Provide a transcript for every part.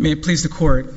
May it please the Court,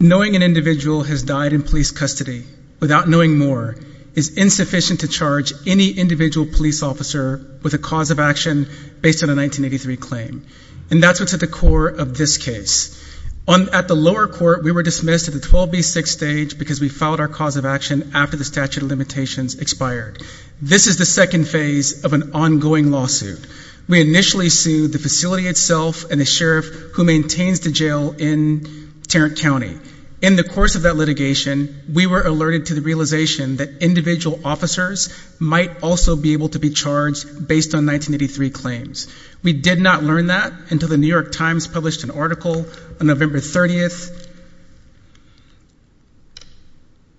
Knowing an individual has died in police custody without knowing more, is insufficient to charge any individual police officer with a cause of action based on a 1983 claim. And that's what's at the core of this case. At the lower court, we were dismissed at the 12B6 stage because we filed our cause of action after the statute of limitations expired. This is the second phase of an ongoing lawsuit. We initially sued the facility itself and the sheriff who maintains the jail in Tarrant County. In the course of that litigation, we were alerted to the realization that individual officers might also be able to be charged based on 1983 claims. We did not learn that until the New York Times published an article on November 30th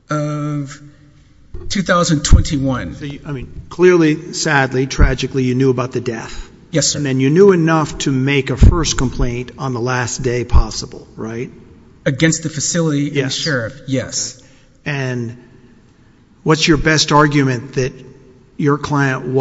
of 2021. Clearly, sadly, tragically, you knew about the death. Yes, sir. And you knew enough to make a first complaint on the last day possible, right? Against the facility and the sheriff, yes. And what's your best argument that your client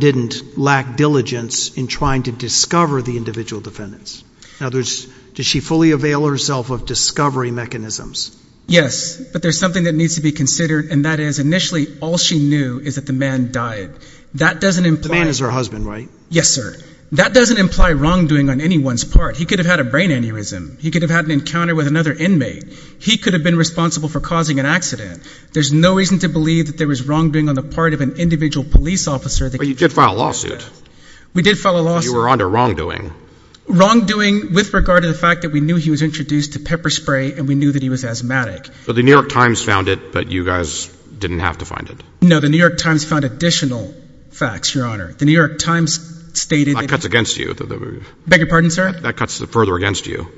didn't lack diligence in trying to discover the individual defendants? Now, does she fully avail herself of discovery mechanisms? Yes, but there's something that needs to be considered, and that is, initially, all she knew is that the man died. That doesn't imply— The man is her husband, right? Yes, sir. That doesn't imply wrongdoing on anyone's part. He could have had a brain aneurysm. He could have had an encounter with another inmate. He could have been responsible for causing an accident. There's no reason to believe that there was wrongdoing on the part of an individual police officer that— But you did file a lawsuit. We did file a lawsuit. You were under wrongdoing. Wrongdoing with regard to the fact that we knew he was introduced to pepper spray, and we knew that he was asthmatic. But the New York Times found it, but you guys didn't have to find it. No, the New York Times found additional facts, Your Honor. The New York Times stated— That cuts against you. Beg your pardon, sir? That cuts further against you.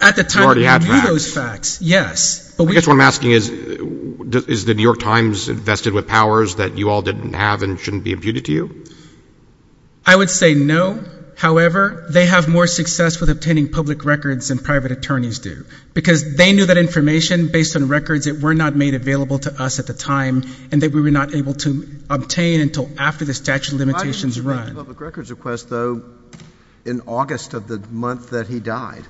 At the time— You already had facts. We knew those facts, yes. But we— I guess what I'm asking is, is the New York Times invested with powers that you all didn't have and shouldn't be imputed to you? I would say no. However, they have more success with obtaining public records than private attorneys do, because they knew that information based on records that were not made available to us at the time, and that we were not able to obtain until after the statute of limitations run. We made a public records request, though, in August of the month that he died.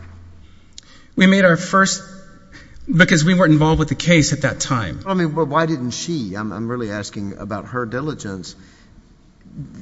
We made our first—because we weren't involved with the case at that time. I mean, but why didn't she? I'm really asking about her diligence.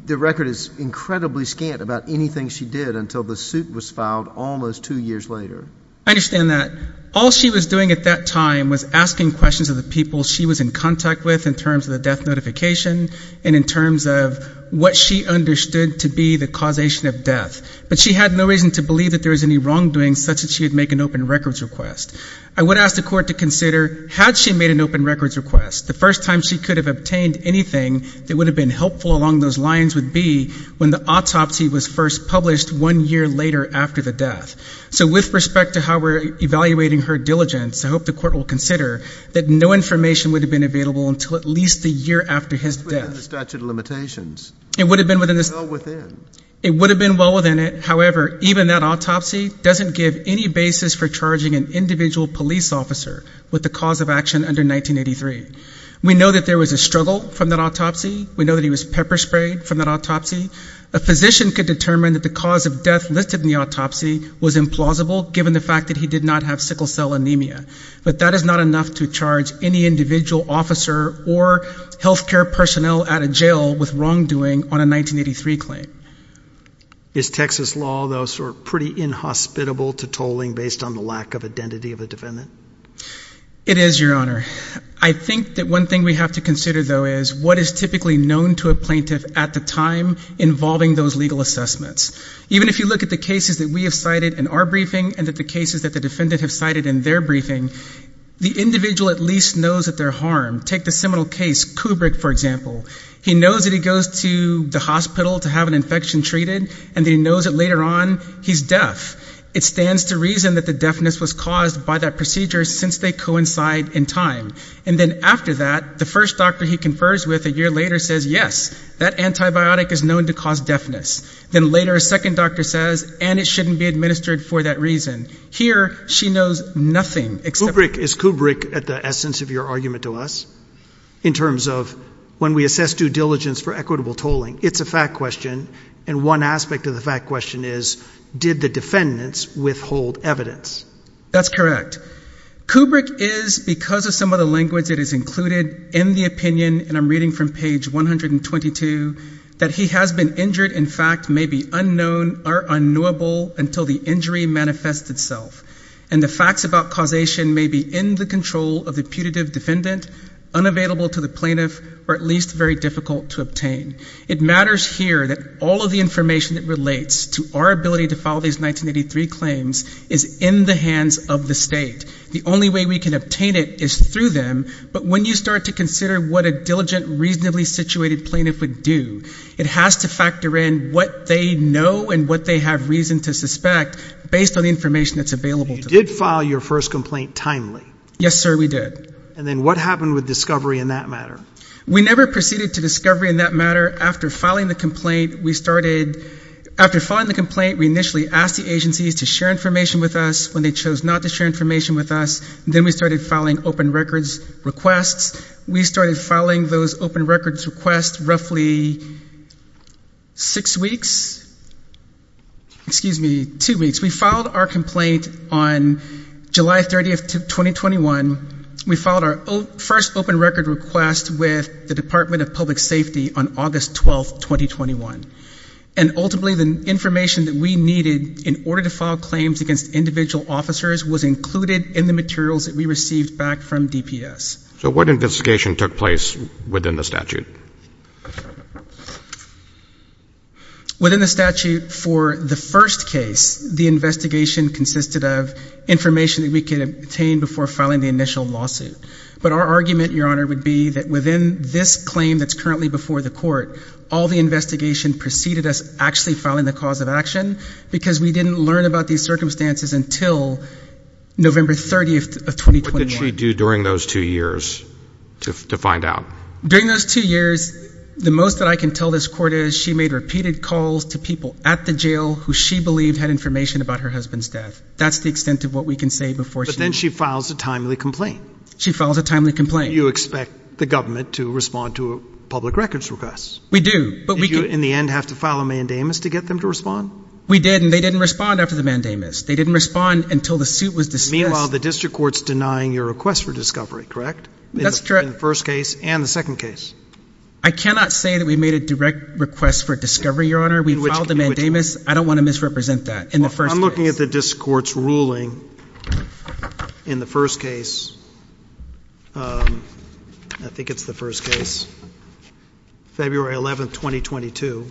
The record is incredibly scant about anything she did until the suit was filed almost two years later. I understand that. All she was doing at that time was asking questions of the people she was in contact with in terms of the death notification and in terms of what she understood to be the causation of death. But she had no reason to believe that there was any wrongdoing such that she would make an open records request. I would ask the court to consider, had she made an open records request, the first time she could have obtained anything that would have been helpful along those lines would be when the autopsy was first published one year later after the death. So with respect to how we're evaluating her diligence, I hope the court will consider that no information would have been available until at least the year after his death. It's within the statute of limitations. It would have been within the statute. It's well within. It would have been well within it, however, even that autopsy doesn't give any basis for charging an individual police officer with the cause of action under 1983. We know that there was a struggle from that autopsy. We know that he was pepper sprayed from that autopsy. A physician could determine that the cause of death listed in the autopsy was implausible given the fact that he did not have sickle cell anemia. But that is not enough to charge any individual officer or healthcare personnel at a jail with wrongdoing on a 1983 claim. Is Texas law, though, sort of pretty inhospitable to tolling based on the lack of identity of a defendant? It is, Your Honor. I think that one thing we have to consider, though, is what is typically known to a plaintiff at the time involving those legal assessments. Even if you look at the cases that we have cited in our briefing and that the cases that the defendant have cited in their briefing, the individual at least knows that they're harmed. Take the seminal case, Kubrick, for example. He knows that he goes to the hospital to have an infection treated and he knows that later on he's deaf. It stands to reason that the deafness was caused by that procedure since they coincide in time. And then after that, the first doctor he confers with a year later says, yes, that antibiotic is known to cause deafness. Then later a second doctor says, and it shouldn't be administered for that reason. Here, she knows nothing except... Kubrick, is Kubrick at the essence of your argument to us in terms of when we assess due diligence for equitable tolling? It's a fact question. And one aspect of the fact question is, did the defendants withhold evidence? That's correct. Kubrick is, because of some of the language that is included in the opinion, and I'm reading from page 122, that he has been injured, in fact, may be unknown or unknowable until the injury manifests itself. And the facts about causation may be in the control of the putative defendant, unavailable to the plaintiff, or at least very difficult to obtain. It matters here that all of the information that relates to our ability to file these 1983 claims is in the hands of the state. The only way we can obtain it is through them. But when you start to consider what a diligent, reasonably situated plaintiff would do, it has to factor in what they know and what they have reason to suspect based on the information that's available to them. You did file your first complaint timely. Yes, sir, we did. And then what happened with discovery in that matter? We never proceeded to discovery in that matter. After filing the complaint, we started... After filing the complaint, we initially asked the agencies to share information with us. When they chose not to share information with us, then we started filing open records requests. We started filing those open records requests roughly six weeks, excuse me, two weeks. We filed our complaint on July 30th, 2021. We filed our first open record request with the Department of Public Safety on August 12th, 2021. And ultimately, the information that we needed in order to file claims against individual officers was included in the materials that we received back from DPS. So what investigation took place within the statute? Within the statute for the first case, the investigation consisted of information that we could obtain before filing the initial lawsuit. But our argument, Your Honor, would be that within this claim that's currently before the court, all the investigation preceded us actually filing the cause of action because we didn't learn about these circumstances until November 30th of 2021. What did she do during those two years to find out? During those two years, the most that I can tell this court is she made repeated calls to people at the jail who she believed had information about her husband's death. That's the extent of what we can say before she... But then she files a timely complaint. She files a timely complaint. You expect the government to respond to public records requests. We do, but we can... Did you, in the end, have to file a mandamus to get them to respond? We did, and they didn't respond after the mandamus. They didn't respond until the suit was discussed. Meanwhile, the district court's denying your request for discovery, correct? That's correct. In the first case and the second case. I cannot say that we made a direct request for discovery, Your Honor. We filed a mandamus. I don't want to misrepresent that in the first case. Well, I'm looking at the district court's ruling in the first case, I think it's the first case, February 11th, 2022,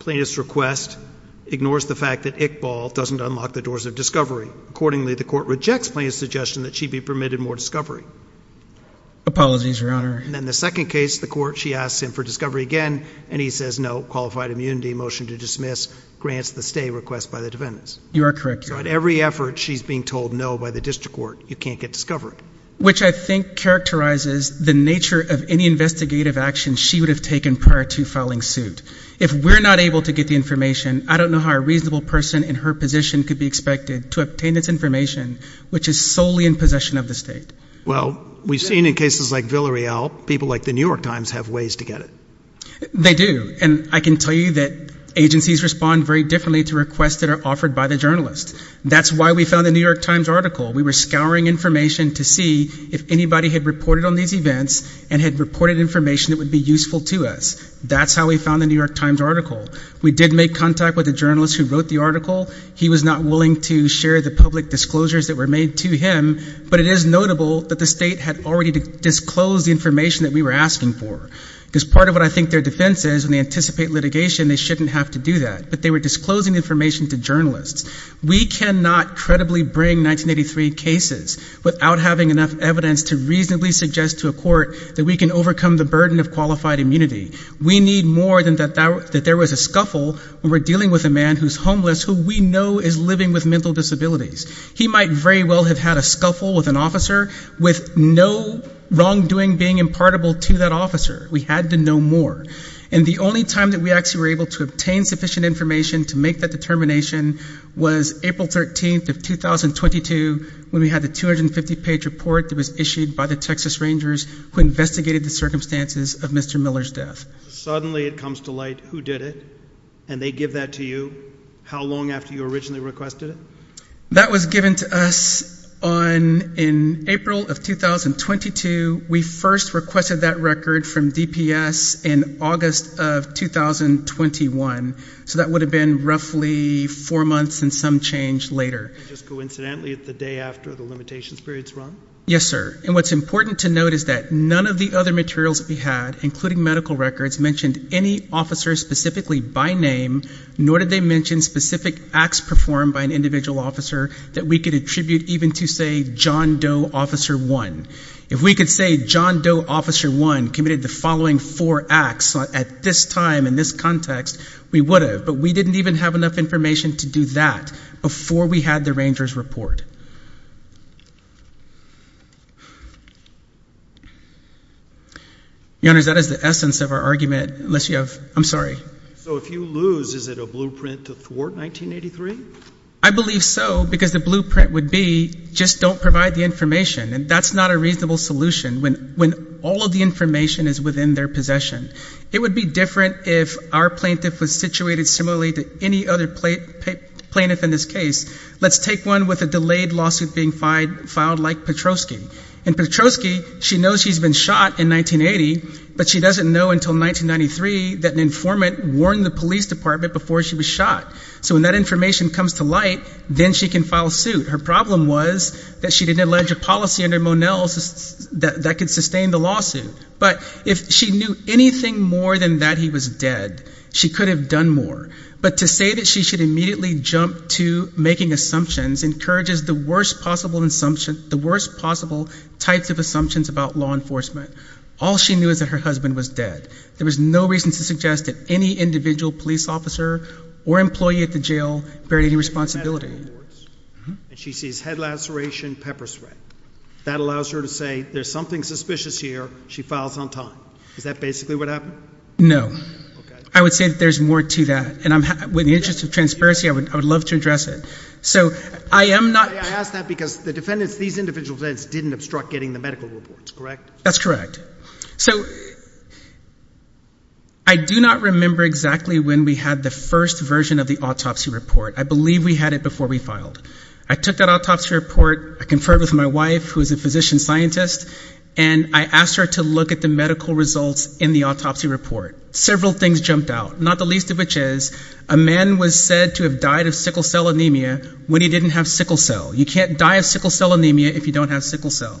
plaintiff's request ignores the fact that Iqbal doesn't unlock the doors of discovery. Accordingly, the court rejects plaintiff's suggestion that she be permitted more discovery. Apologies, Your Honor. And then the second case, the court, she asks him for discovery again, and he says no, qualified immunity, motion to dismiss, grants the stay request by the defendants. You are correct, Your Honor. So at every effort, she's being told no by the district court, you can't get discovery. Which I think characterizes the nature of any investigative action she would have taken prior to filing suit. If we're not able to get the information, I don't know how a reasonable person in her position could be expected to obtain this information, which is solely in possession of the state. Well, we've seen in cases like Villarreal, people like the New York Times have ways to get it. They do. And I can tell you that agencies respond very differently to requests that are offered by the journalist. That's why we found the New York Times article. We were scouring information to see if anybody had reported on these events and had reported information that would be useful to us. That's how we found the New York Times article. We did make contact with the journalist who wrote the article. He was not willing to share the public disclosures that were made to him. But it is notable that the state had already disclosed the information that we were asking for. Because part of what I think their defense is when they anticipate litigation, they shouldn't have to do that. But they were disclosing information to journalists. We cannot credibly bring 1983 cases without having enough evidence to reasonably suggest to a court that we can overcome the burden of qualified immunity. We need more than that there was a scuffle when we're dealing with a man who's homeless who we know is living with mental disabilities. He might very well have had a scuffle with an officer with no wrongdoing being impartable to that officer. We had to know more. And the only time that we actually were able to obtain sufficient information to make that determination was April 13th of 2022 when we had the 250-page report that was issued by the Texas Rangers who investigated the circumstances of Mr. Miller's death. Suddenly it comes to light, who did it? And they give that to you? How long after you originally requested it? That was given to us in April of 2022. We first requested that record from DPS in August of 2021. So that would have been roughly four months and some change later. Just coincidentally, the day after the limitations period's run? Yes, sir. And what's important to note is that none of the other materials that we had, including medical records, mentioned any officer specifically by name, nor did they mention specific acts performed by an individual officer that we could attribute even to, say, John Doe Officer 1. If we could say John Doe Officer 1 committed the following four acts at this time in this context, we would have. But we didn't even have enough information to do that before we had the Rangers' report. Your Honor, that is the essence of our argument, unless you have, I'm sorry. So if you lose, is it a blueprint to thwart 1983? I believe so, because the blueprint would be, just don't provide the information. And that's not a reasonable solution when all of the information is within their possession. It would be different if our plaintiff was situated similarly to any other plaintiff in this case. Let's take one with a delayed lawsuit being filed like Petroski. In Petroski, she knows she's been shot in 1980, but she doesn't know until 1993 that an informant warned the police department before she was shot. So when that information comes to light, then she can file suit. Her problem was that she didn't allege a policy under Monell's that could sustain the lawsuit. But if she knew anything more than that he was dead, she could have done more. But to say that she should immediately jump to making assumptions encourages the worst possible types of assumptions about law enforcement. All she knew is that her husband was dead. There was no reason to suggest that any individual police officer or employee at the jail bear any responsibility. And she sees head laceration, pepper spray. That allows her to say, there's something suspicious here, she files on time. Is that basically what happened? No. I would say that there's more to that. And with the interest of transparency, I would love to address it. So I am not- I ask that because the defendants, these individual defendants didn't obstruct getting the medical reports, correct? That's correct. So I do not remember exactly when we had the first version of the autopsy report. I believe we had it before we filed. I took that autopsy report, I conferred with my wife, who is a physician scientist, and I asked her to look at the medical results in the autopsy report. Several things jumped out, not the least of which is, a man was said to have died of sickle cell anemia when he didn't have sickle cell. You can't die of sickle cell anemia if you don't have sickle cell.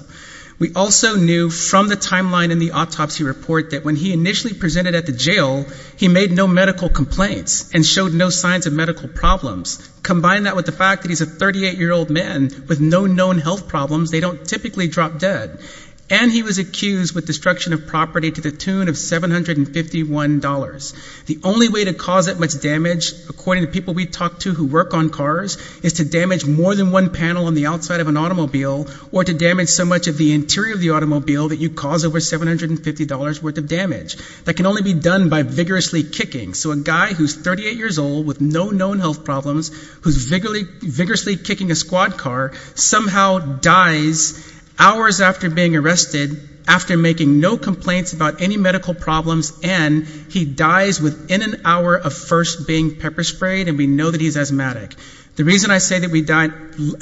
We also knew from the timeline in the autopsy report that when he initially presented at the jail, he made no medical complaints and showed no signs of medical problems. Combine that with the fact that he's a 38 year old man with no known health problems, they don't typically drop dead. And he was accused with destruction of property to the tune of $751. The only way to cause that much damage, according to people we talked to who work on cars, is to damage more than one panel on the outside of an automobile or to damage so much of the interior of the automobile that you cause over $750 worth of damage. That can only be done by vigorously kicking. So a guy who's 38 years old with no known health problems, who's vigorously kicking a squad car, somehow dies hours after being arrested, after making no complaints about any medical problems, and he dies within an hour of first being pepper sprayed, and we know that he's asthmatic. The reason I say that we died,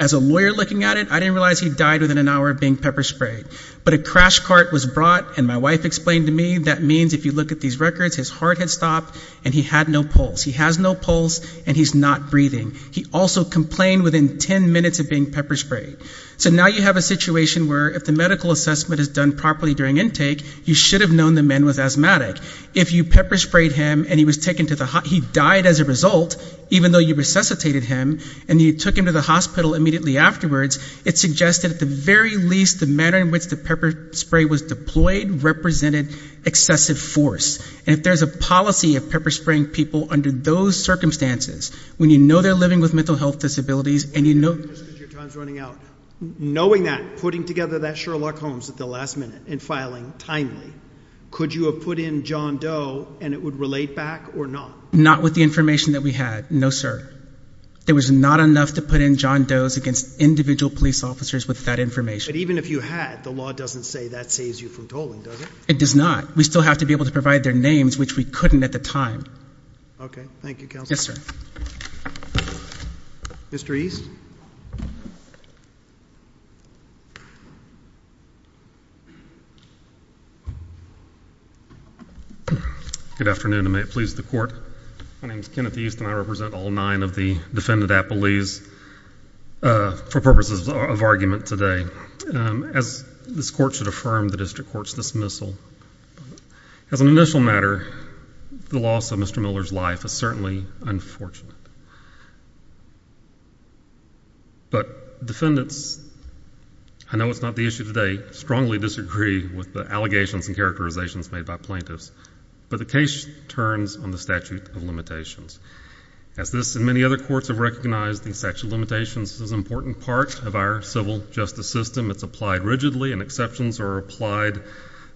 as a lawyer looking at it, I didn't realize he died within an hour of being pepper sprayed. But a crash cart was brought, and my wife explained to me, that means if you look at these records, his heart had stopped and he had no pulse. He has no pulse, and he's not breathing. He also complained within ten minutes of being pepper sprayed. So now you have a situation where if the medical assessment is done properly during intake, you should have known the man was asthmatic. If you pepper sprayed him, and he died as a result, even though you resuscitated him, and you took him to the hospital immediately afterwards, it suggested at the very least, the manner in which the pepper spray was deployed represented excessive force. And if there's a policy of pepper spraying people under those circumstances, when you know they're living with mental health disabilities, and you know- Because your time's running out. Knowing that, putting together that Sherlock Holmes at the last minute, and filing timely, could you have put in John Doe, and it would relate back or not? Not with the information that we had, no sir. There was not enough to put in John Doe's against individual police officers with that information. But even if you had, the law doesn't say that saves you from tolling, does it? It does not. We still have to be able to provide their names, which we couldn't at the time. Okay, thank you counsel. Yes sir. Mr. East. Good afternoon, and may it please the court. My name's Kenneth East, and I represent all nine of the defendant appellees for purposes of argument today. As this court should affirm the district court's dismissal, as an initial matter, the loss of Mr. Miller's life is certainly unfortunate. But defendants, I know it's not the issue today, strongly disagree with the allegations and characterizations made by plaintiffs. But the case turns on the statute of limitations. As this and many other courts have recognized, I think statute of limitations is an important part of our civil justice system. It's applied rigidly, and exceptions are applied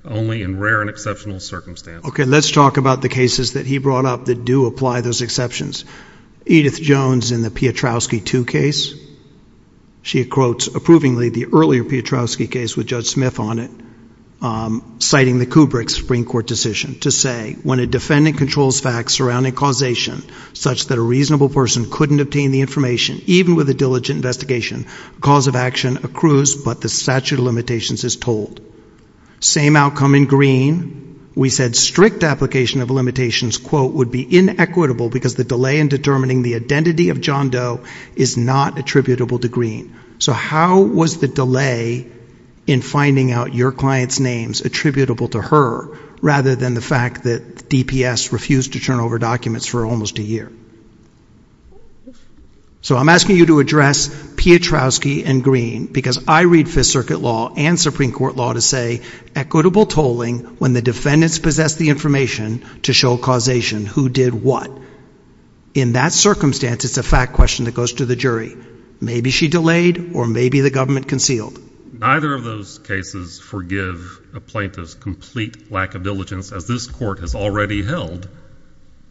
only in rare and exceptional circumstances. Okay, let's talk about the cases that he brought up that do apply those exceptions. Edith Jones in the Piotrowski 2 case, she quotes approvingly the earlier Piotrowski case with Judge Smith on it. Citing the Kubrick Supreme Court decision to say, when a defendant controls facts surrounding causation, such that a reasonable person couldn't obtain the information, even with a diligent investigation, cause of action accrues, but the statute of limitations is told. Same outcome in Greene. We said strict application of limitations, quote, would be inequitable because the delay in determining the identity of John Doe is not attributable to Greene. So how was the delay in finding out your client's names attributable to her, rather than the fact that DPS refused to turn over documents for almost a year? So I'm asking you to address Piotrowski and Greene, because I read Fifth Circuit law and Supreme Court law to say, equitable tolling when the defendants possess the information to show causation. Who did what? In that circumstance, it's a fact question that goes to the jury. Maybe she delayed, or maybe the government concealed. Neither of those cases forgive a plaintiff's complete lack of diligence, as this court has already held.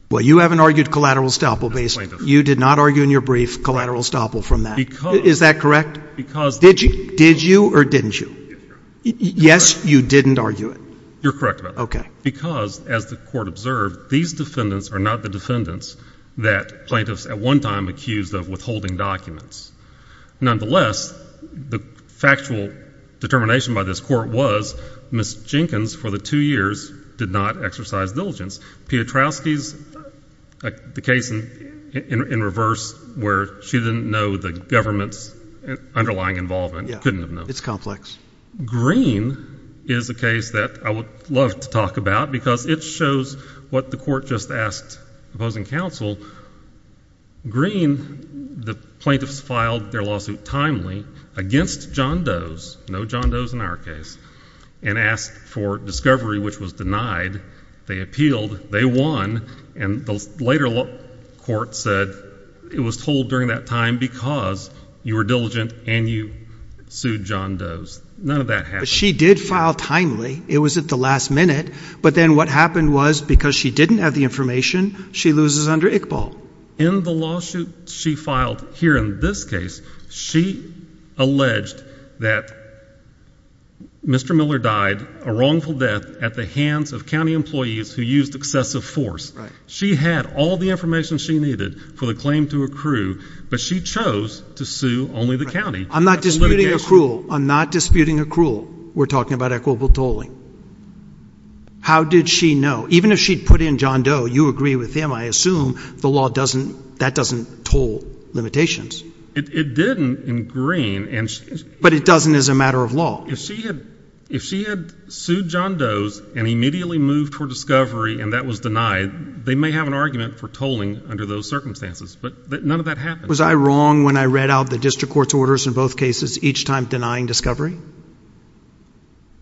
Well, you haven't argued collateral estoppel, basically. You did not argue in your brief collateral estoppel from that. Is that correct? Did you, or didn't you? Yes, you didn't argue it. You're correct about that. Because, as the court observed, these defendants are not the defendants that plaintiffs at one time accused of withholding documents. Nonetheless, the factual determination by this court was Ms. Jenkins, for the two years, did not exercise diligence. Piotrowski's, the case in reverse, where she didn't know the government's underlying involvement, couldn't have known. It's complex. Greene is a case that I would love to talk about, because it shows what the court just asked opposing counsel. Greene, the plaintiffs filed their lawsuit timely against John Doe's, no John Doe's in our case, and asked for discovery, which was denied. They appealed, they won, and the later court said, it was told during that time because you were diligent and you sued John Doe's. None of that happened. She did file timely. It was at the last minute. But then what happened was, because she didn't have the information, she loses under ICPSR. In the lawsuit she filed here in this case, she alleged that Mr. Miller died a wrongful death at the hands of county employees who used excessive force. She had all the information she needed for the claim to accrue, but she chose to sue only the county. I'm not disputing accrual. I'm not disputing accrual. We're talking about equitable tolling. How did she know? Even if she'd put in John Doe, you agree with him. I assume the law doesn't, that doesn't toll limitations. It didn't in Green and- But it doesn't as a matter of law. If she had sued John Doe's and immediately moved for discovery and that was denied, they may have an argument for tolling under those circumstances. But none of that happened. Was I wrong when I read out the district court's orders in both cases, each time denying discovery?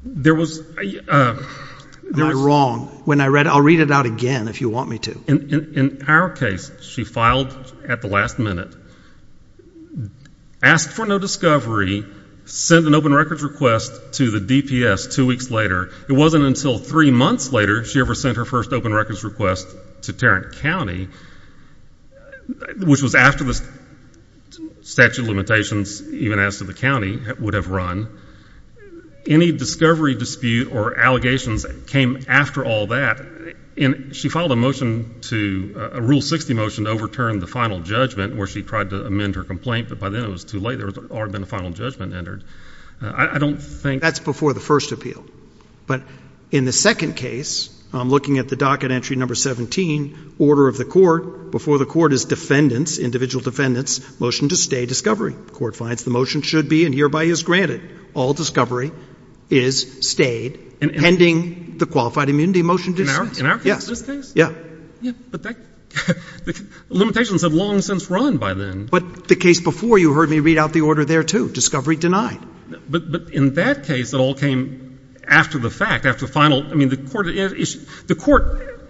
There was- I'm not wrong. When I read, I'll read it out again if you want me to. In our case, she filed at the last minute, asked for no discovery, sent an open records request to the DPS two weeks later. It wasn't until three months later she ever sent her first open records request to Tarrant County, which was after the statute of limitations, even as to the county, would have run. Any discovery dispute or allegations came after all that. And she filed a motion to, a rule 60 motion to overturn the final judgment, where she tried to amend her complaint, but by then it was too late. There had already been a final judgment entered. I don't think- That's before the first appeal. But in the second case, I'm looking at the docket entry number 17, order of the court, before the court is defendants, individual defendants, motion to stay discovery. Court finds the motion should be and hereby is granted. All discovery is stayed pending the qualified immunity motion. In our case, this case? Yeah. Yeah, but that, the limitations have long since run by then. But the case before, you heard me read out the order there too, discovery denied. But, but in that case, it all came after the fact, after the final, I mean, the court, the court,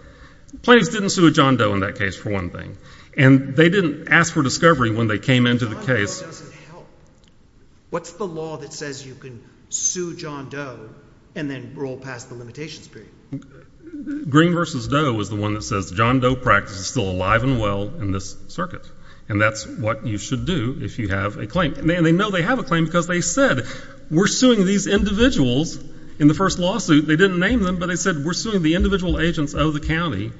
plaintiffs didn't sue John Doe in that case, for one thing, and they didn't ask for discovery when they came into the case. John Doe doesn't help. What's the law that says you can sue John Doe and then roll past the limitations period? Green versus Doe is the one that says John Doe practice is still alive and well in this circuit. And that's what you should do if you have a claim. And they know they have a claim because they said, we're suing these individuals in the first lawsuit. They didn't name them, but they said, we're suing the individual agents of the county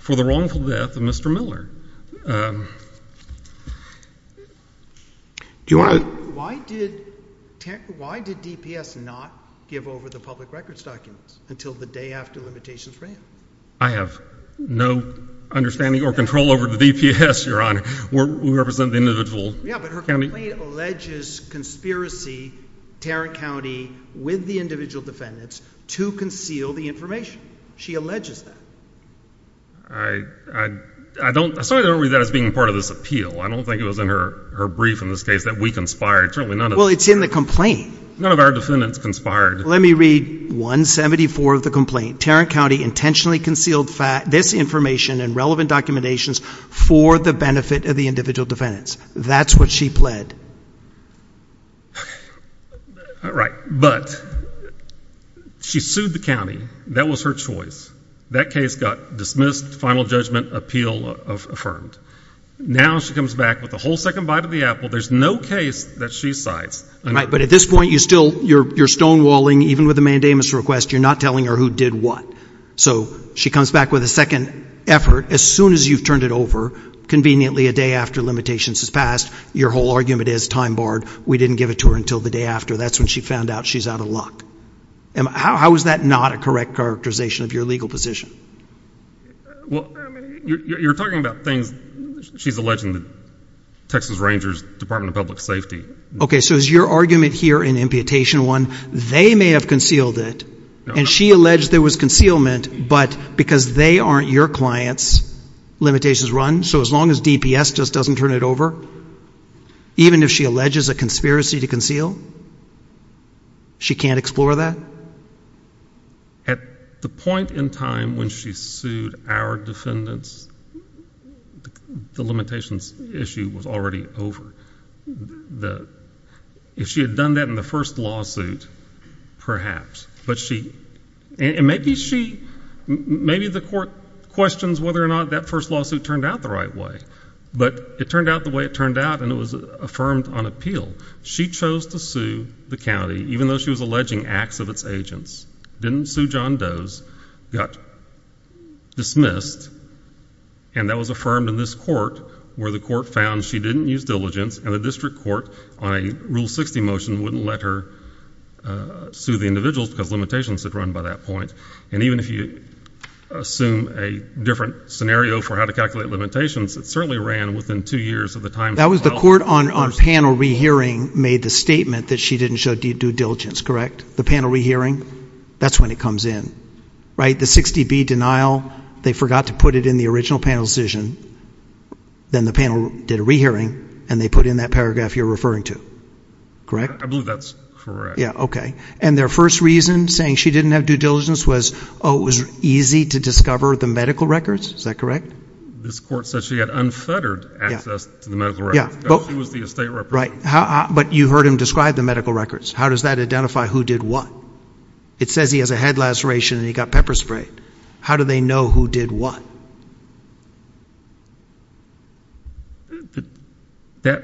for the wrongful death of Mr. Miller. Do you want to? Why did, why did DPS not give over the public records documents until the day after limitations ran? I have no understanding or control over the DPS, your honor. We're, we represent the individual. Yeah, but her complaint alleges conspiracy, Tarrant County, with the individual defendants, to conceal the information. She alleges that. I, I, I don't, I saw her read that as being part of this appeal. I don't think it was in her, her brief in this case that we conspired. Certainly none of- Well, it's in the complaint. None of our defendants conspired. Let me read 174 of the complaint. Tarrant County intentionally concealed this information and relevant documentations for the benefit of the individual defendants. That's what she pled. Right, but she sued the county. That was her choice. That case got dismissed, final judgment appeal affirmed. Now she comes back with a whole second bite of the apple. There's no case that she cites. Right, but at this point, you still, you're, you're stonewalling. Even with the mandamus request, you're not telling her who did what. So, she comes back with a second effort. As soon as you've turned it over, conveniently a day after limitations has passed, your whole argument is time barred. We didn't give it to her until the day after. That's when she found out she's out of luck. And how, how is that not a correct characterization of your legal position? Well, I mean, you're, you're talking about things, she's alleging the Texas Rangers Department of Public Safety. Okay, so is your argument here in imputation one, they may have concealed it. And she alleged there was concealment, but because they aren't your clients, limitations run. So as long as DPS just doesn't turn it over, even if she alleges a conspiracy to conceal, she can't explore that? At the point in time when she sued our defendants, the limitations issue was already over. The, if she had done that in the first lawsuit, perhaps. But she, and maybe she, maybe the court questions whether or not that first lawsuit turned out the right way. But it turned out the way it turned out, and it was affirmed on appeal. She chose to sue the county, even though she was alleging acts of its agents. Didn't sue John Doe's, got dismissed, and that was affirmed in this court, where the court found she didn't use diligence, and the district court, on a Rule 60 motion, wouldn't let her sue the individuals, because limitations had run by that point. And even if you assume a different scenario for how to calculate limitations, it certainly ran within two years of the time. That was the court on, on panel re-hearing, made the statement that she didn't show due diligence, correct? The panel re-hearing, that's when it comes in, right? The 60B denial, they forgot to put it in the original panel decision. Then the panel did a re-hearing, and they put in that paragraph you're referring to, correct? I believe that's correct. Yeah, okay. And their first reason, saying she didn't have due diligence, was, oh, it was easy to discover the medical records, is that correct? This court said she had unfettered access to the medical records. Yeah, but. She was the estate representative. Right, how, but you heard him describe the medical records. How does that identify who did what? It says he has a head laceration, and he got pepper sprayed. How do they know who did what? That,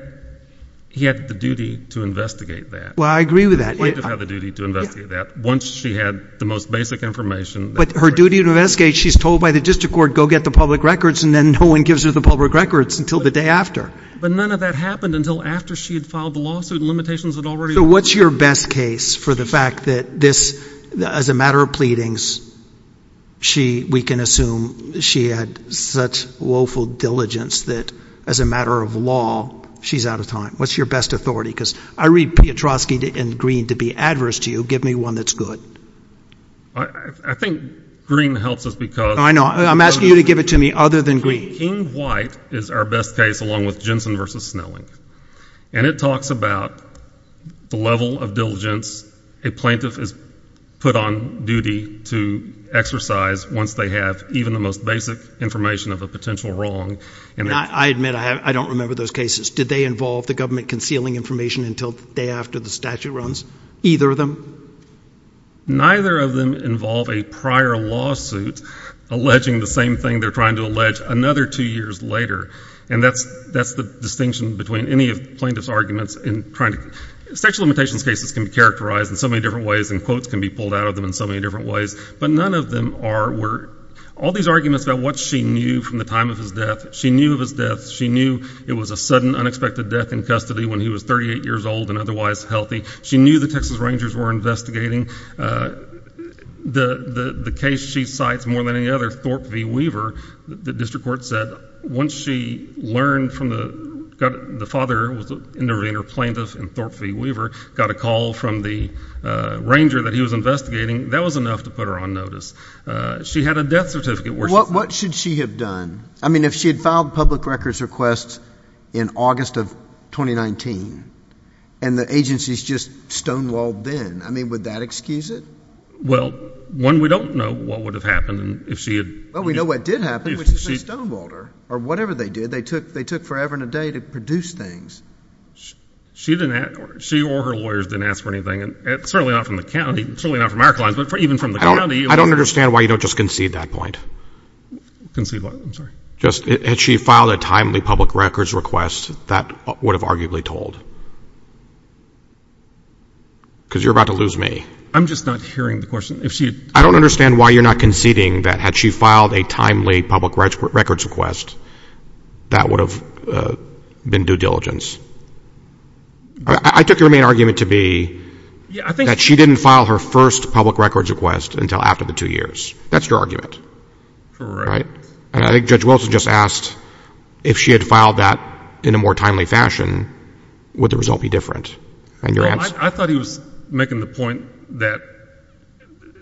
he had the duty to investigate that. Well, I agree with that. He did have the duty to investigate that. Once she had the most basic information. But her duty to investigate, she's told by the district court, go get the public records, and then no one gives her the public records until the day after. But none of that happened until after she had filed the lawsuit. Limitations had already. So what's your best case for the fact that this, as a matter of pleadings, we can assume she had such woeful diligence that, as a matter of law, she's out of time. What's your best authority? Because I read Piotrowski and Green to be adverse to you. Give me one that's good. I think Green helps us because. I know, I'm asking you to give it to me other than Green. King White is our best case, along with Jensen versus Snelling. And it talks about the level of diligence a plaintiff is put on duty to exercise once they have even the most basic information of a potential wrong. And I admit, I don't remember those cases. Did they involve the government concealing information until the day after the statute runs? Either of them? Neither of them involve a prior lawsuit alleging the same thing they're trying to allege another two years later. And that's the distinction between any plaintiff's arguments in trying to. Sexual limitations cases can be characterized in so many different ways, and quotes can be pulled out of them in so many different ways. But none of them are where, all these arguments about what she knew from the time of his death, she knew of his death, she knew it was a sudden, unexpected death in custody when he was 38 years old and otherwise healthy. She knew the Texas Rangers were investigating the case she cites more than any other, Thorpe V Weaver, the district court said, once she learned from the, got, the father was an intervener plaintiff in Thorpe V Weaver, got a call from the ranger that he was investigating, that was enough to put her on notice. She had a death certificate where she- What, what should she have done? I mean, if she had filed public records requests in August of 2019 and the agency's just stonewalled then, I mean, would that excuse it? Well, one, we don't know what would have happened if she had- Well, we know what did happen, which is they stonewalled her. Or whatever they did, they took forever and a day to produce things. She didn't ask, she or her lawyers didn't ask for anything, and certainly not from the county, certainly not from our clients, but even from the county- I don't understand why you don't just concede that point. Concede what, I'm sorry? Just, had she filed a timely public records request, that would have arguably told. Because you're about to lose me. I'm just not hearing the question. If she had- I don't understand why you're not conceding that had she filed a timely public records request, that would have been due diligence. I took your main argument to be that she didn't file her first public records request until after the two years. That's your argument. Correct. And I think Judge Wilson just asked if she had filed that in a more timely fashion, would the result be different? And your answer- I thought he was making the point that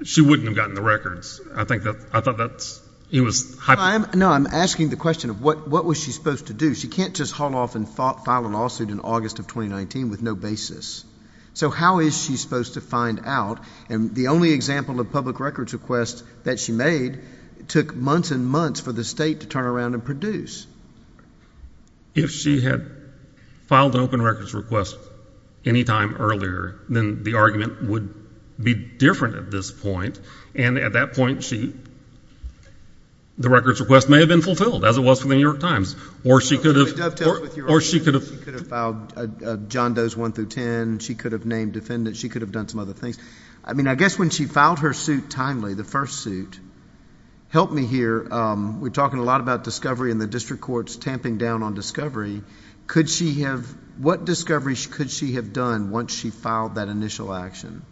she wouldn't have gotten the records. I think that, I thought that's, he was- No, I'm asking the question of what was she supposed to do? She can't just haul off and file a lawsuit in August of 2019 with no basis. So how is she supposed to find out, and the only example of public records request that she made took months and months for the state to turn around and produce. If she had filed an open records request any time earlier, then the argument would be different at this point, and at that point she, the records request may have been fulfilled as it was for the New York Times, or she could have- Can I dovetail with your argument that she could have filed John Doe's 1 through 10, she could have named defendants, she could have done some other things. I mean, I guess when she filed her suit timely, the first suit, help me here, we're talking a lot about discovery and the district court's tamping down on Could she have, what discoveries could she have done once she filed that initial action?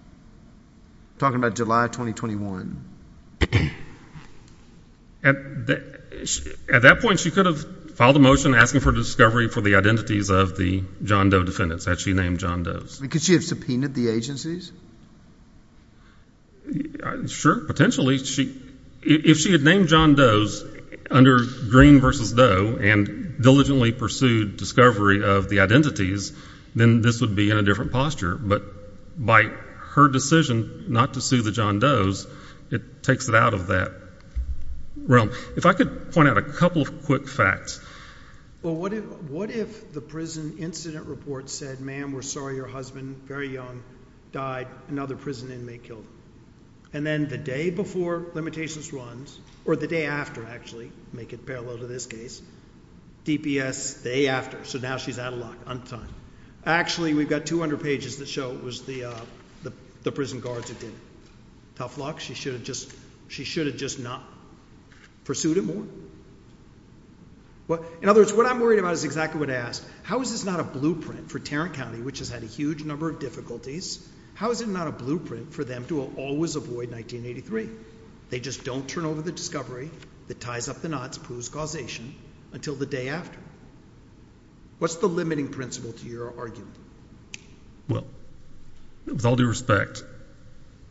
Talking about July 2021. At that point, she could have filed a motion asking for discovery for the identities of the John Doe defendants that she named John Doe's. Could she have subpoenaed the agencies? Sure, potentially. If she had named John Doe's under Green versus Doe and diligently pursued discovery of the identities, then this would be in a different posture, but by her decision not to sue the John Doe's, it takes it out of that realm. If I could point out a couple of quick facts. Well, what if the prison incident report said, ma'am, we're sorry your husband, very young, died. Another prison inmate killed. And then the day before limitations runs or the day after, actually make it parallel to this case, DPS day after. So now she's out of luck on time. Actually, we've got 200 pages that show it was the the prison guards that did tough luck. She should have just she should have just not pursued it more. Well, in other words, what I'm worried about is exactly what I asked, how is not a blueprint for Tarrant County, which has had a huge number of How is it not a blueprint for them to always avoid 1983? They just don't turn over the discovery that ties up the knots, proves causation, until the day after. What's the limiting principle to your argument? Well, with all due respect,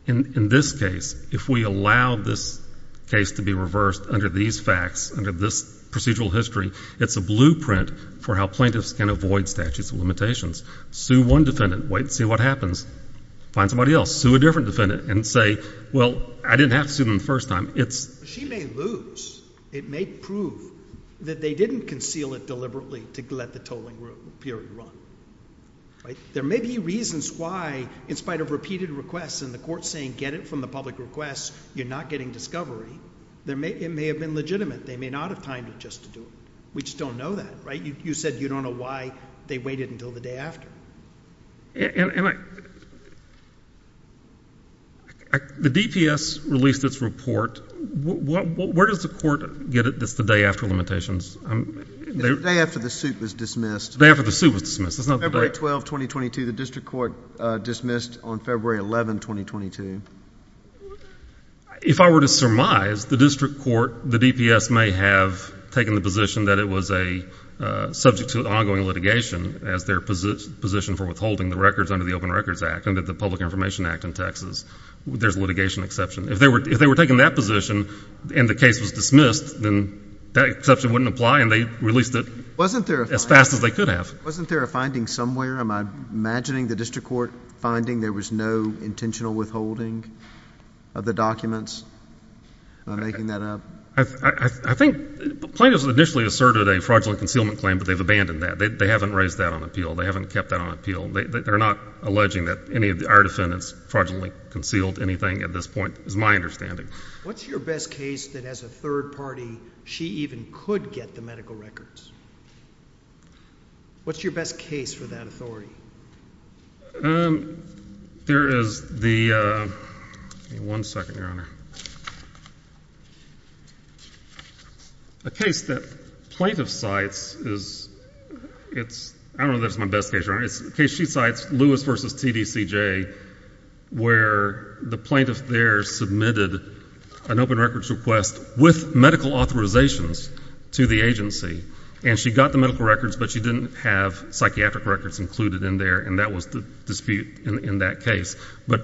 in this case, if we allow this case to be reversed under these facts, under this procedural history, it's a blueprint for how plaintiffs can avoid statutes of limitations. Sue one defendant, wait and see what happens. Find somebody else, sue a different defendant, and say, well, I didn't have to sue them the first time. It's- She may lose. It may prove that they didn't conceal it deliberately to let the tolling period run, right? There may be reasons why, in spite of repeated requests and the court saying, get it from the public requests, you're not getting discovery. There may, it may have been legitimate. They may not have timed it just to do it. We just don't know that, right? You said you don't know why they waited until the day after. The DPS released its report. Where does the court get it that's the day after limitations? It's the day after the suit was dismissed. The day after the suit was dismissed. It's not the date. February 12, 2022, the district court dismissed on February 11, 2022. If I were to surmise, the district court, the DPS may have taken the position that it was a subject to ongoing litigation as their position for withholding the records under the Open Records Act, under the Public Information Act in Texas. There's litigation exception. If they were taking that position and the case was dismissed, then that exception wouldn't apply and they released it as fast as they could have. Wasn't there a finding somewhere? Am I imagining the district court finding there was no intentional withholding of the documents, making that up? I think plaintiffs initially asserted a fraudulent concealment claim, but they've abandoned that. They haven't raised that on appeal. They haven't kept that on appeal. They're not alleging that any of our defendants fraudulently concealed anything at this point, is my understanding. What's your best case that as a third party, she even could get the medical records? What's your best case for that authority? There is the, give me one second, Your Honor. A case that plaintiff cites is, it's, I don't know if that's my best case, Your Honor. It's a case she cites, Lewis versus TDCJ, where the plaintiff there submitted an open records request with medical authorizations to the agency. And she got the medical records, but she didn't have psychiatric records included in there, and that was the dispute in that case. But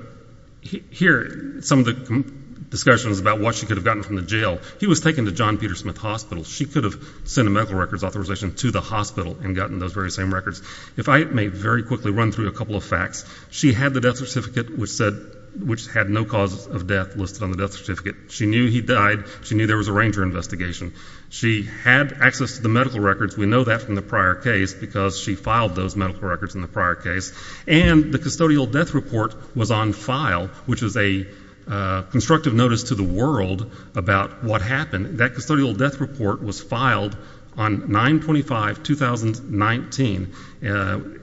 here, some of the discussions about what she could have gotten from the jail. He was taken to John Peter Smith Hospital. She could have sent a medical records authorization to the hospital and gotten those very same records. If I may very quickly run through a couple of facts. She had the death certificate which said, which had no cause of death listed on the death certificate. She knew he died. She knew there was a ranger investigation. She had access to the medical records. We know that from the prior case, because she filed those medical records in the prior case. And the custodial death report was on file, which is a constructive notice to the world about what happened. That custodial death report was filed on 9-25-2019.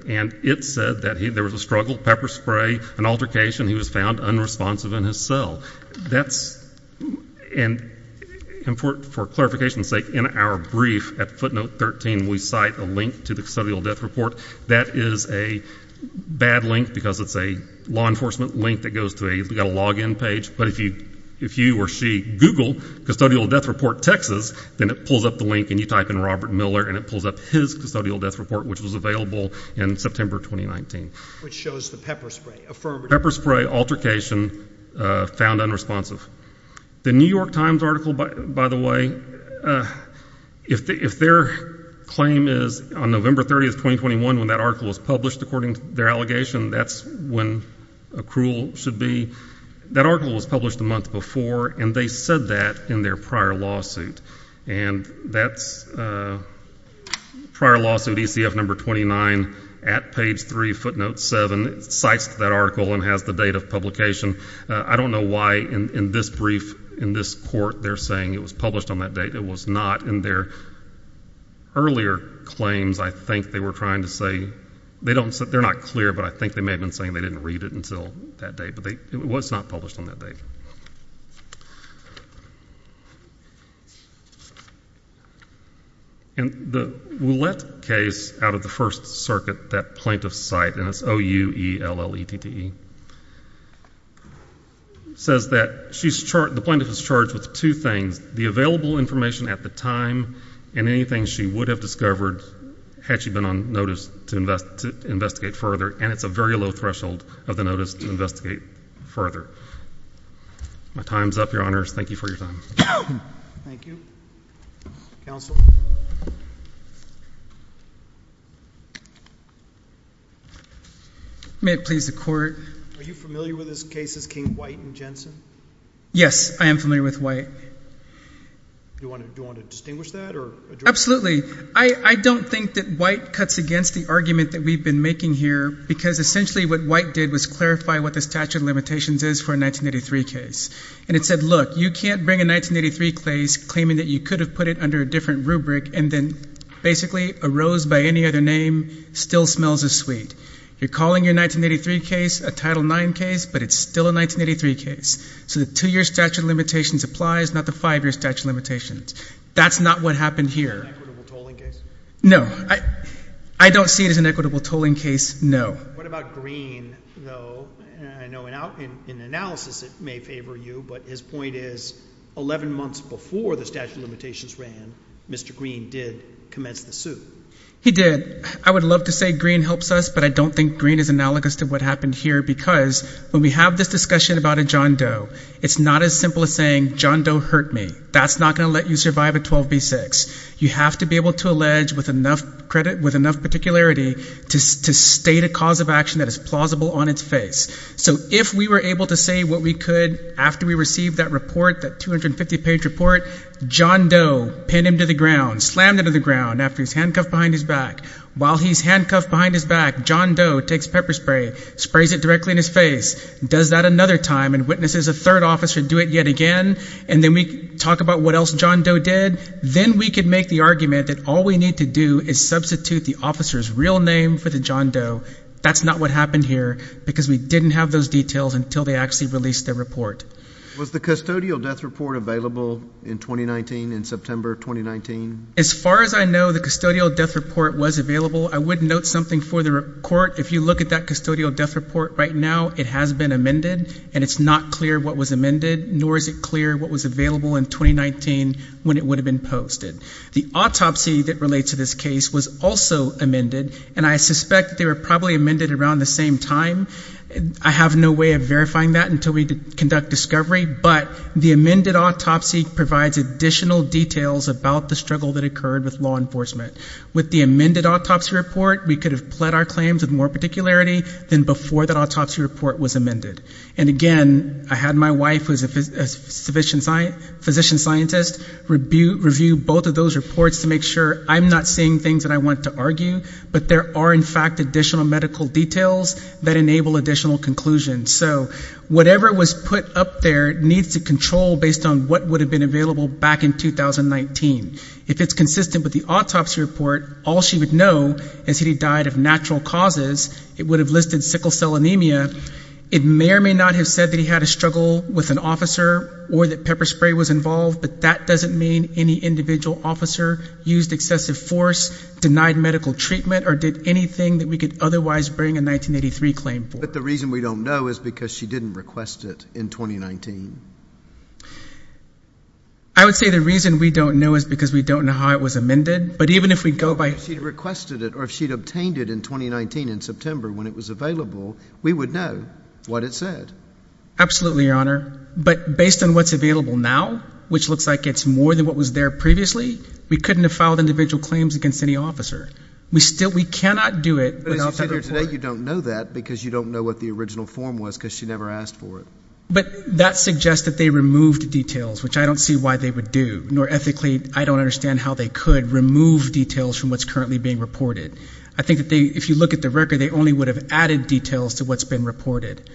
And it said that there was a struggle, pepper spray, an altercation, he was found unresponsive in his cell. That's, and for clarification's sake, in our brief at footnote 13, we cite a link to the custodial death report. That is a bad link because it's a law enforcement link that goes to a, you got a login page, but if you or she Google custodial death report Texas, then it pulls up the link and you type in Robert Miller and it pulls up his custodial death report, which was available in September 2019. Which shows the pepper spray, affirmative. Pepper spray altercation, found unresponsive. The New York Times article, by the way, if their claim is on November 30th, 2021, when that article was published according to their allegation, that's when accrual should be. That article was published a month before and they said that in their prior lawsuit. And that's prior lawsuit ECF number 29 at page 3, footnote 7, cites that article and has the date of publication. I don't know why in this brief, in this court, they're saying it was published on that date. It was not in their earlier claims. I think they were trying to say, they don't, they're not clear, but I think they may have been saying they didn't read it until that date, but it was not published on that date. And the Willette case out of the First Circuit, that plaintiff's site, and it's O-U-E-L-L-E-T-T-E, says that she's charged, the plaintiff is charged with two things. The available information at the time and anything she would have discovered had she been on notice to investigate further, and it's a very low threshold of the notice to investigate further. My time's up, your honors. Thank you for your time. Thank you. Counsel? May it please the court. Are you familiar with this case as King, White, and Jensen? Yes, I am familiar with White. Do you want to distinguish that? Absolutely. I don't think that White cuts against the argument that we've been making here, because essentially what White did was clarify what the statute of limitations is for a 1983 case. And it said, look, you can't bring a 1983 case claiming that you could have put it under a different rubric and then basically a rose by any other name still smells as sweet. You're calling your 1983 case a Title IX case, but it's still a 1983 case. So the two-year statute of limitations applies, not the five-year statute of limitations. That's not what happened here. Is it an equitable tolling case? No. I don't see it as an equitable tolling case, no. What about Green, though? I know in analysis it may favor you, but his point is 11 months before the statute of limitations ran, Mr. Green did commence the suit. He did. I would love to say Green helps us, but I don't think Green is analogous to what happened here, because when we have this discussion about a John Doe, it's not as simple as saying, John Doe hurt me. That's not going to let you survive a 12b6. You have to be able to allege with enough credit, with enough particularity, to state a cause of action that is plausible on its face. So if we were able to say what we could after we received that report, that 250-page report, John Doe pinned him to the ground, slammed him to the ground after he was handcuffed behind his back, while he's handcuffed behind his back, John Doe takes pepper spray, sprays it directly in his face, does that another time, and witnesses a third officer do it yet again, and then we talk about what else John Doe did, then we could make the argument that all we need to do is substitute the officer's real name for the John Doe. That's not what happened here, because we didn't have those details until they actually released the report. Was the custodial death report available in 2019, in September 2019? As far as I know, the custodial death report was available. I would note something for the court. If you look at that custodial death report right now, it has been amended, and it's not clear what was amended, nor is it clear what was available in 2019 when it would have been posted. The autopsy that relates to this case was also amended, and I suspect they were probably amended around the same time. I have no way of verifying that until we conduct discovery, but the amended autopsy provides additional details about the struggle that occurred with law enforcement. With the amended autopsy report, we could have pled our claims with more particularity than before that autopsy report was amended. And again, I had my wife, who is a physician scientist, review both of those reports to make sure I'm not seeing things that I want to argue, but there are, in fact, additional medical details that enable additional conclusions. So whatever was put up there needs to control based on what would have been available back in 2019. If it's consistent with the autopsy report, all she would know is that he died of natural causes. It would have listed sickle cell anemia. It may or may not have said that he had a struggle with an officer or that pepper spray was involved, but that doesn't mean any individual officer used excessive force, denied medical treatment, or did anything that we could otherwise bring a 1983 claim for. But the reason we don't know is because she didn't request it in 2019. I would say the reason we don't know is because we don't know how it was amended, but even if we go by... If she'd requested it or if she'd obtained it in 2019 in September when it was available, we would know what it said. Absolutely, Your Honour. But based on what's available now, which looks like it's more than what was there previously, we couldn't have filed individual claims against any officer. We still... We cannot do it without that report. But as you say here today, you don't know that because you don't know what the original form was because she never asked for it. But that suggests that they removed details, which I don't see why they would do, nor ethically, I don't understand how they could remove details from what's currently being reported. I think that if you look at the record, they only would have added details to what's been reported.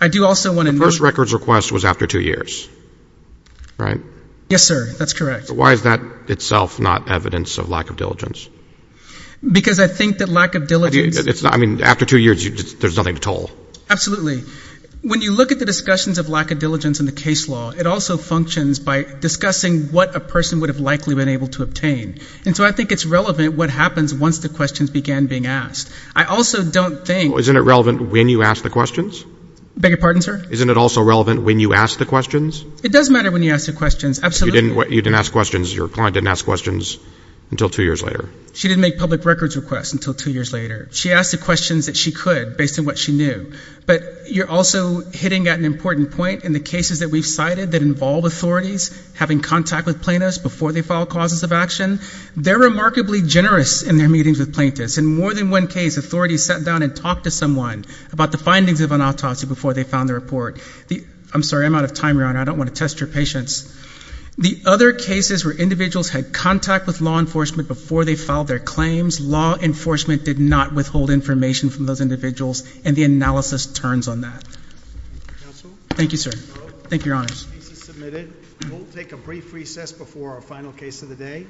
I do also want to... The first records request was after two years, right? Yes, sir. That's correct. Why is that itself not evidence of lack of diligence? Because I think that lack of diligence... I mean, after two years, there's nothing to toll. Absolutely. When you look at the discussions of lack of diligence in the case law, it also functions by discussing what a person would have likely been able to obtain. And so I think it's relevant what happens once the questions began being asked. I also don't think... Isn't it relevant when you ask the questions? Beg your pardon, sir? Isn't it also relevant when you ask the questions? It does matter when you ask the questions, absolutely. You didn't ask questions... Your client didn't ask questions until two years later. She didn't make public records requests until two years later. She asked the questions that she could based on what she knew. But you're also hitting at an important point in the cases that we've cited that involve authorities having contact with plaintiffs before they file causes of action. They're remarkably generous in their meetings with plaintiffs. In more than one case, authorities sat down and talked to someone about the findings of an autopsy before they found the report. I'm sorry, I'm out of time, Your Honor. I don't want to test your patience. The other cases were individuals had contact with law enforcement before they filed their claims. Law enforcement did not withhold information from those individuals. And the analysis turns on that. Counsel? Thank you, sir. Thank you, Your Honor. The case is submitted. We'll take a brief recess before our final case of the day.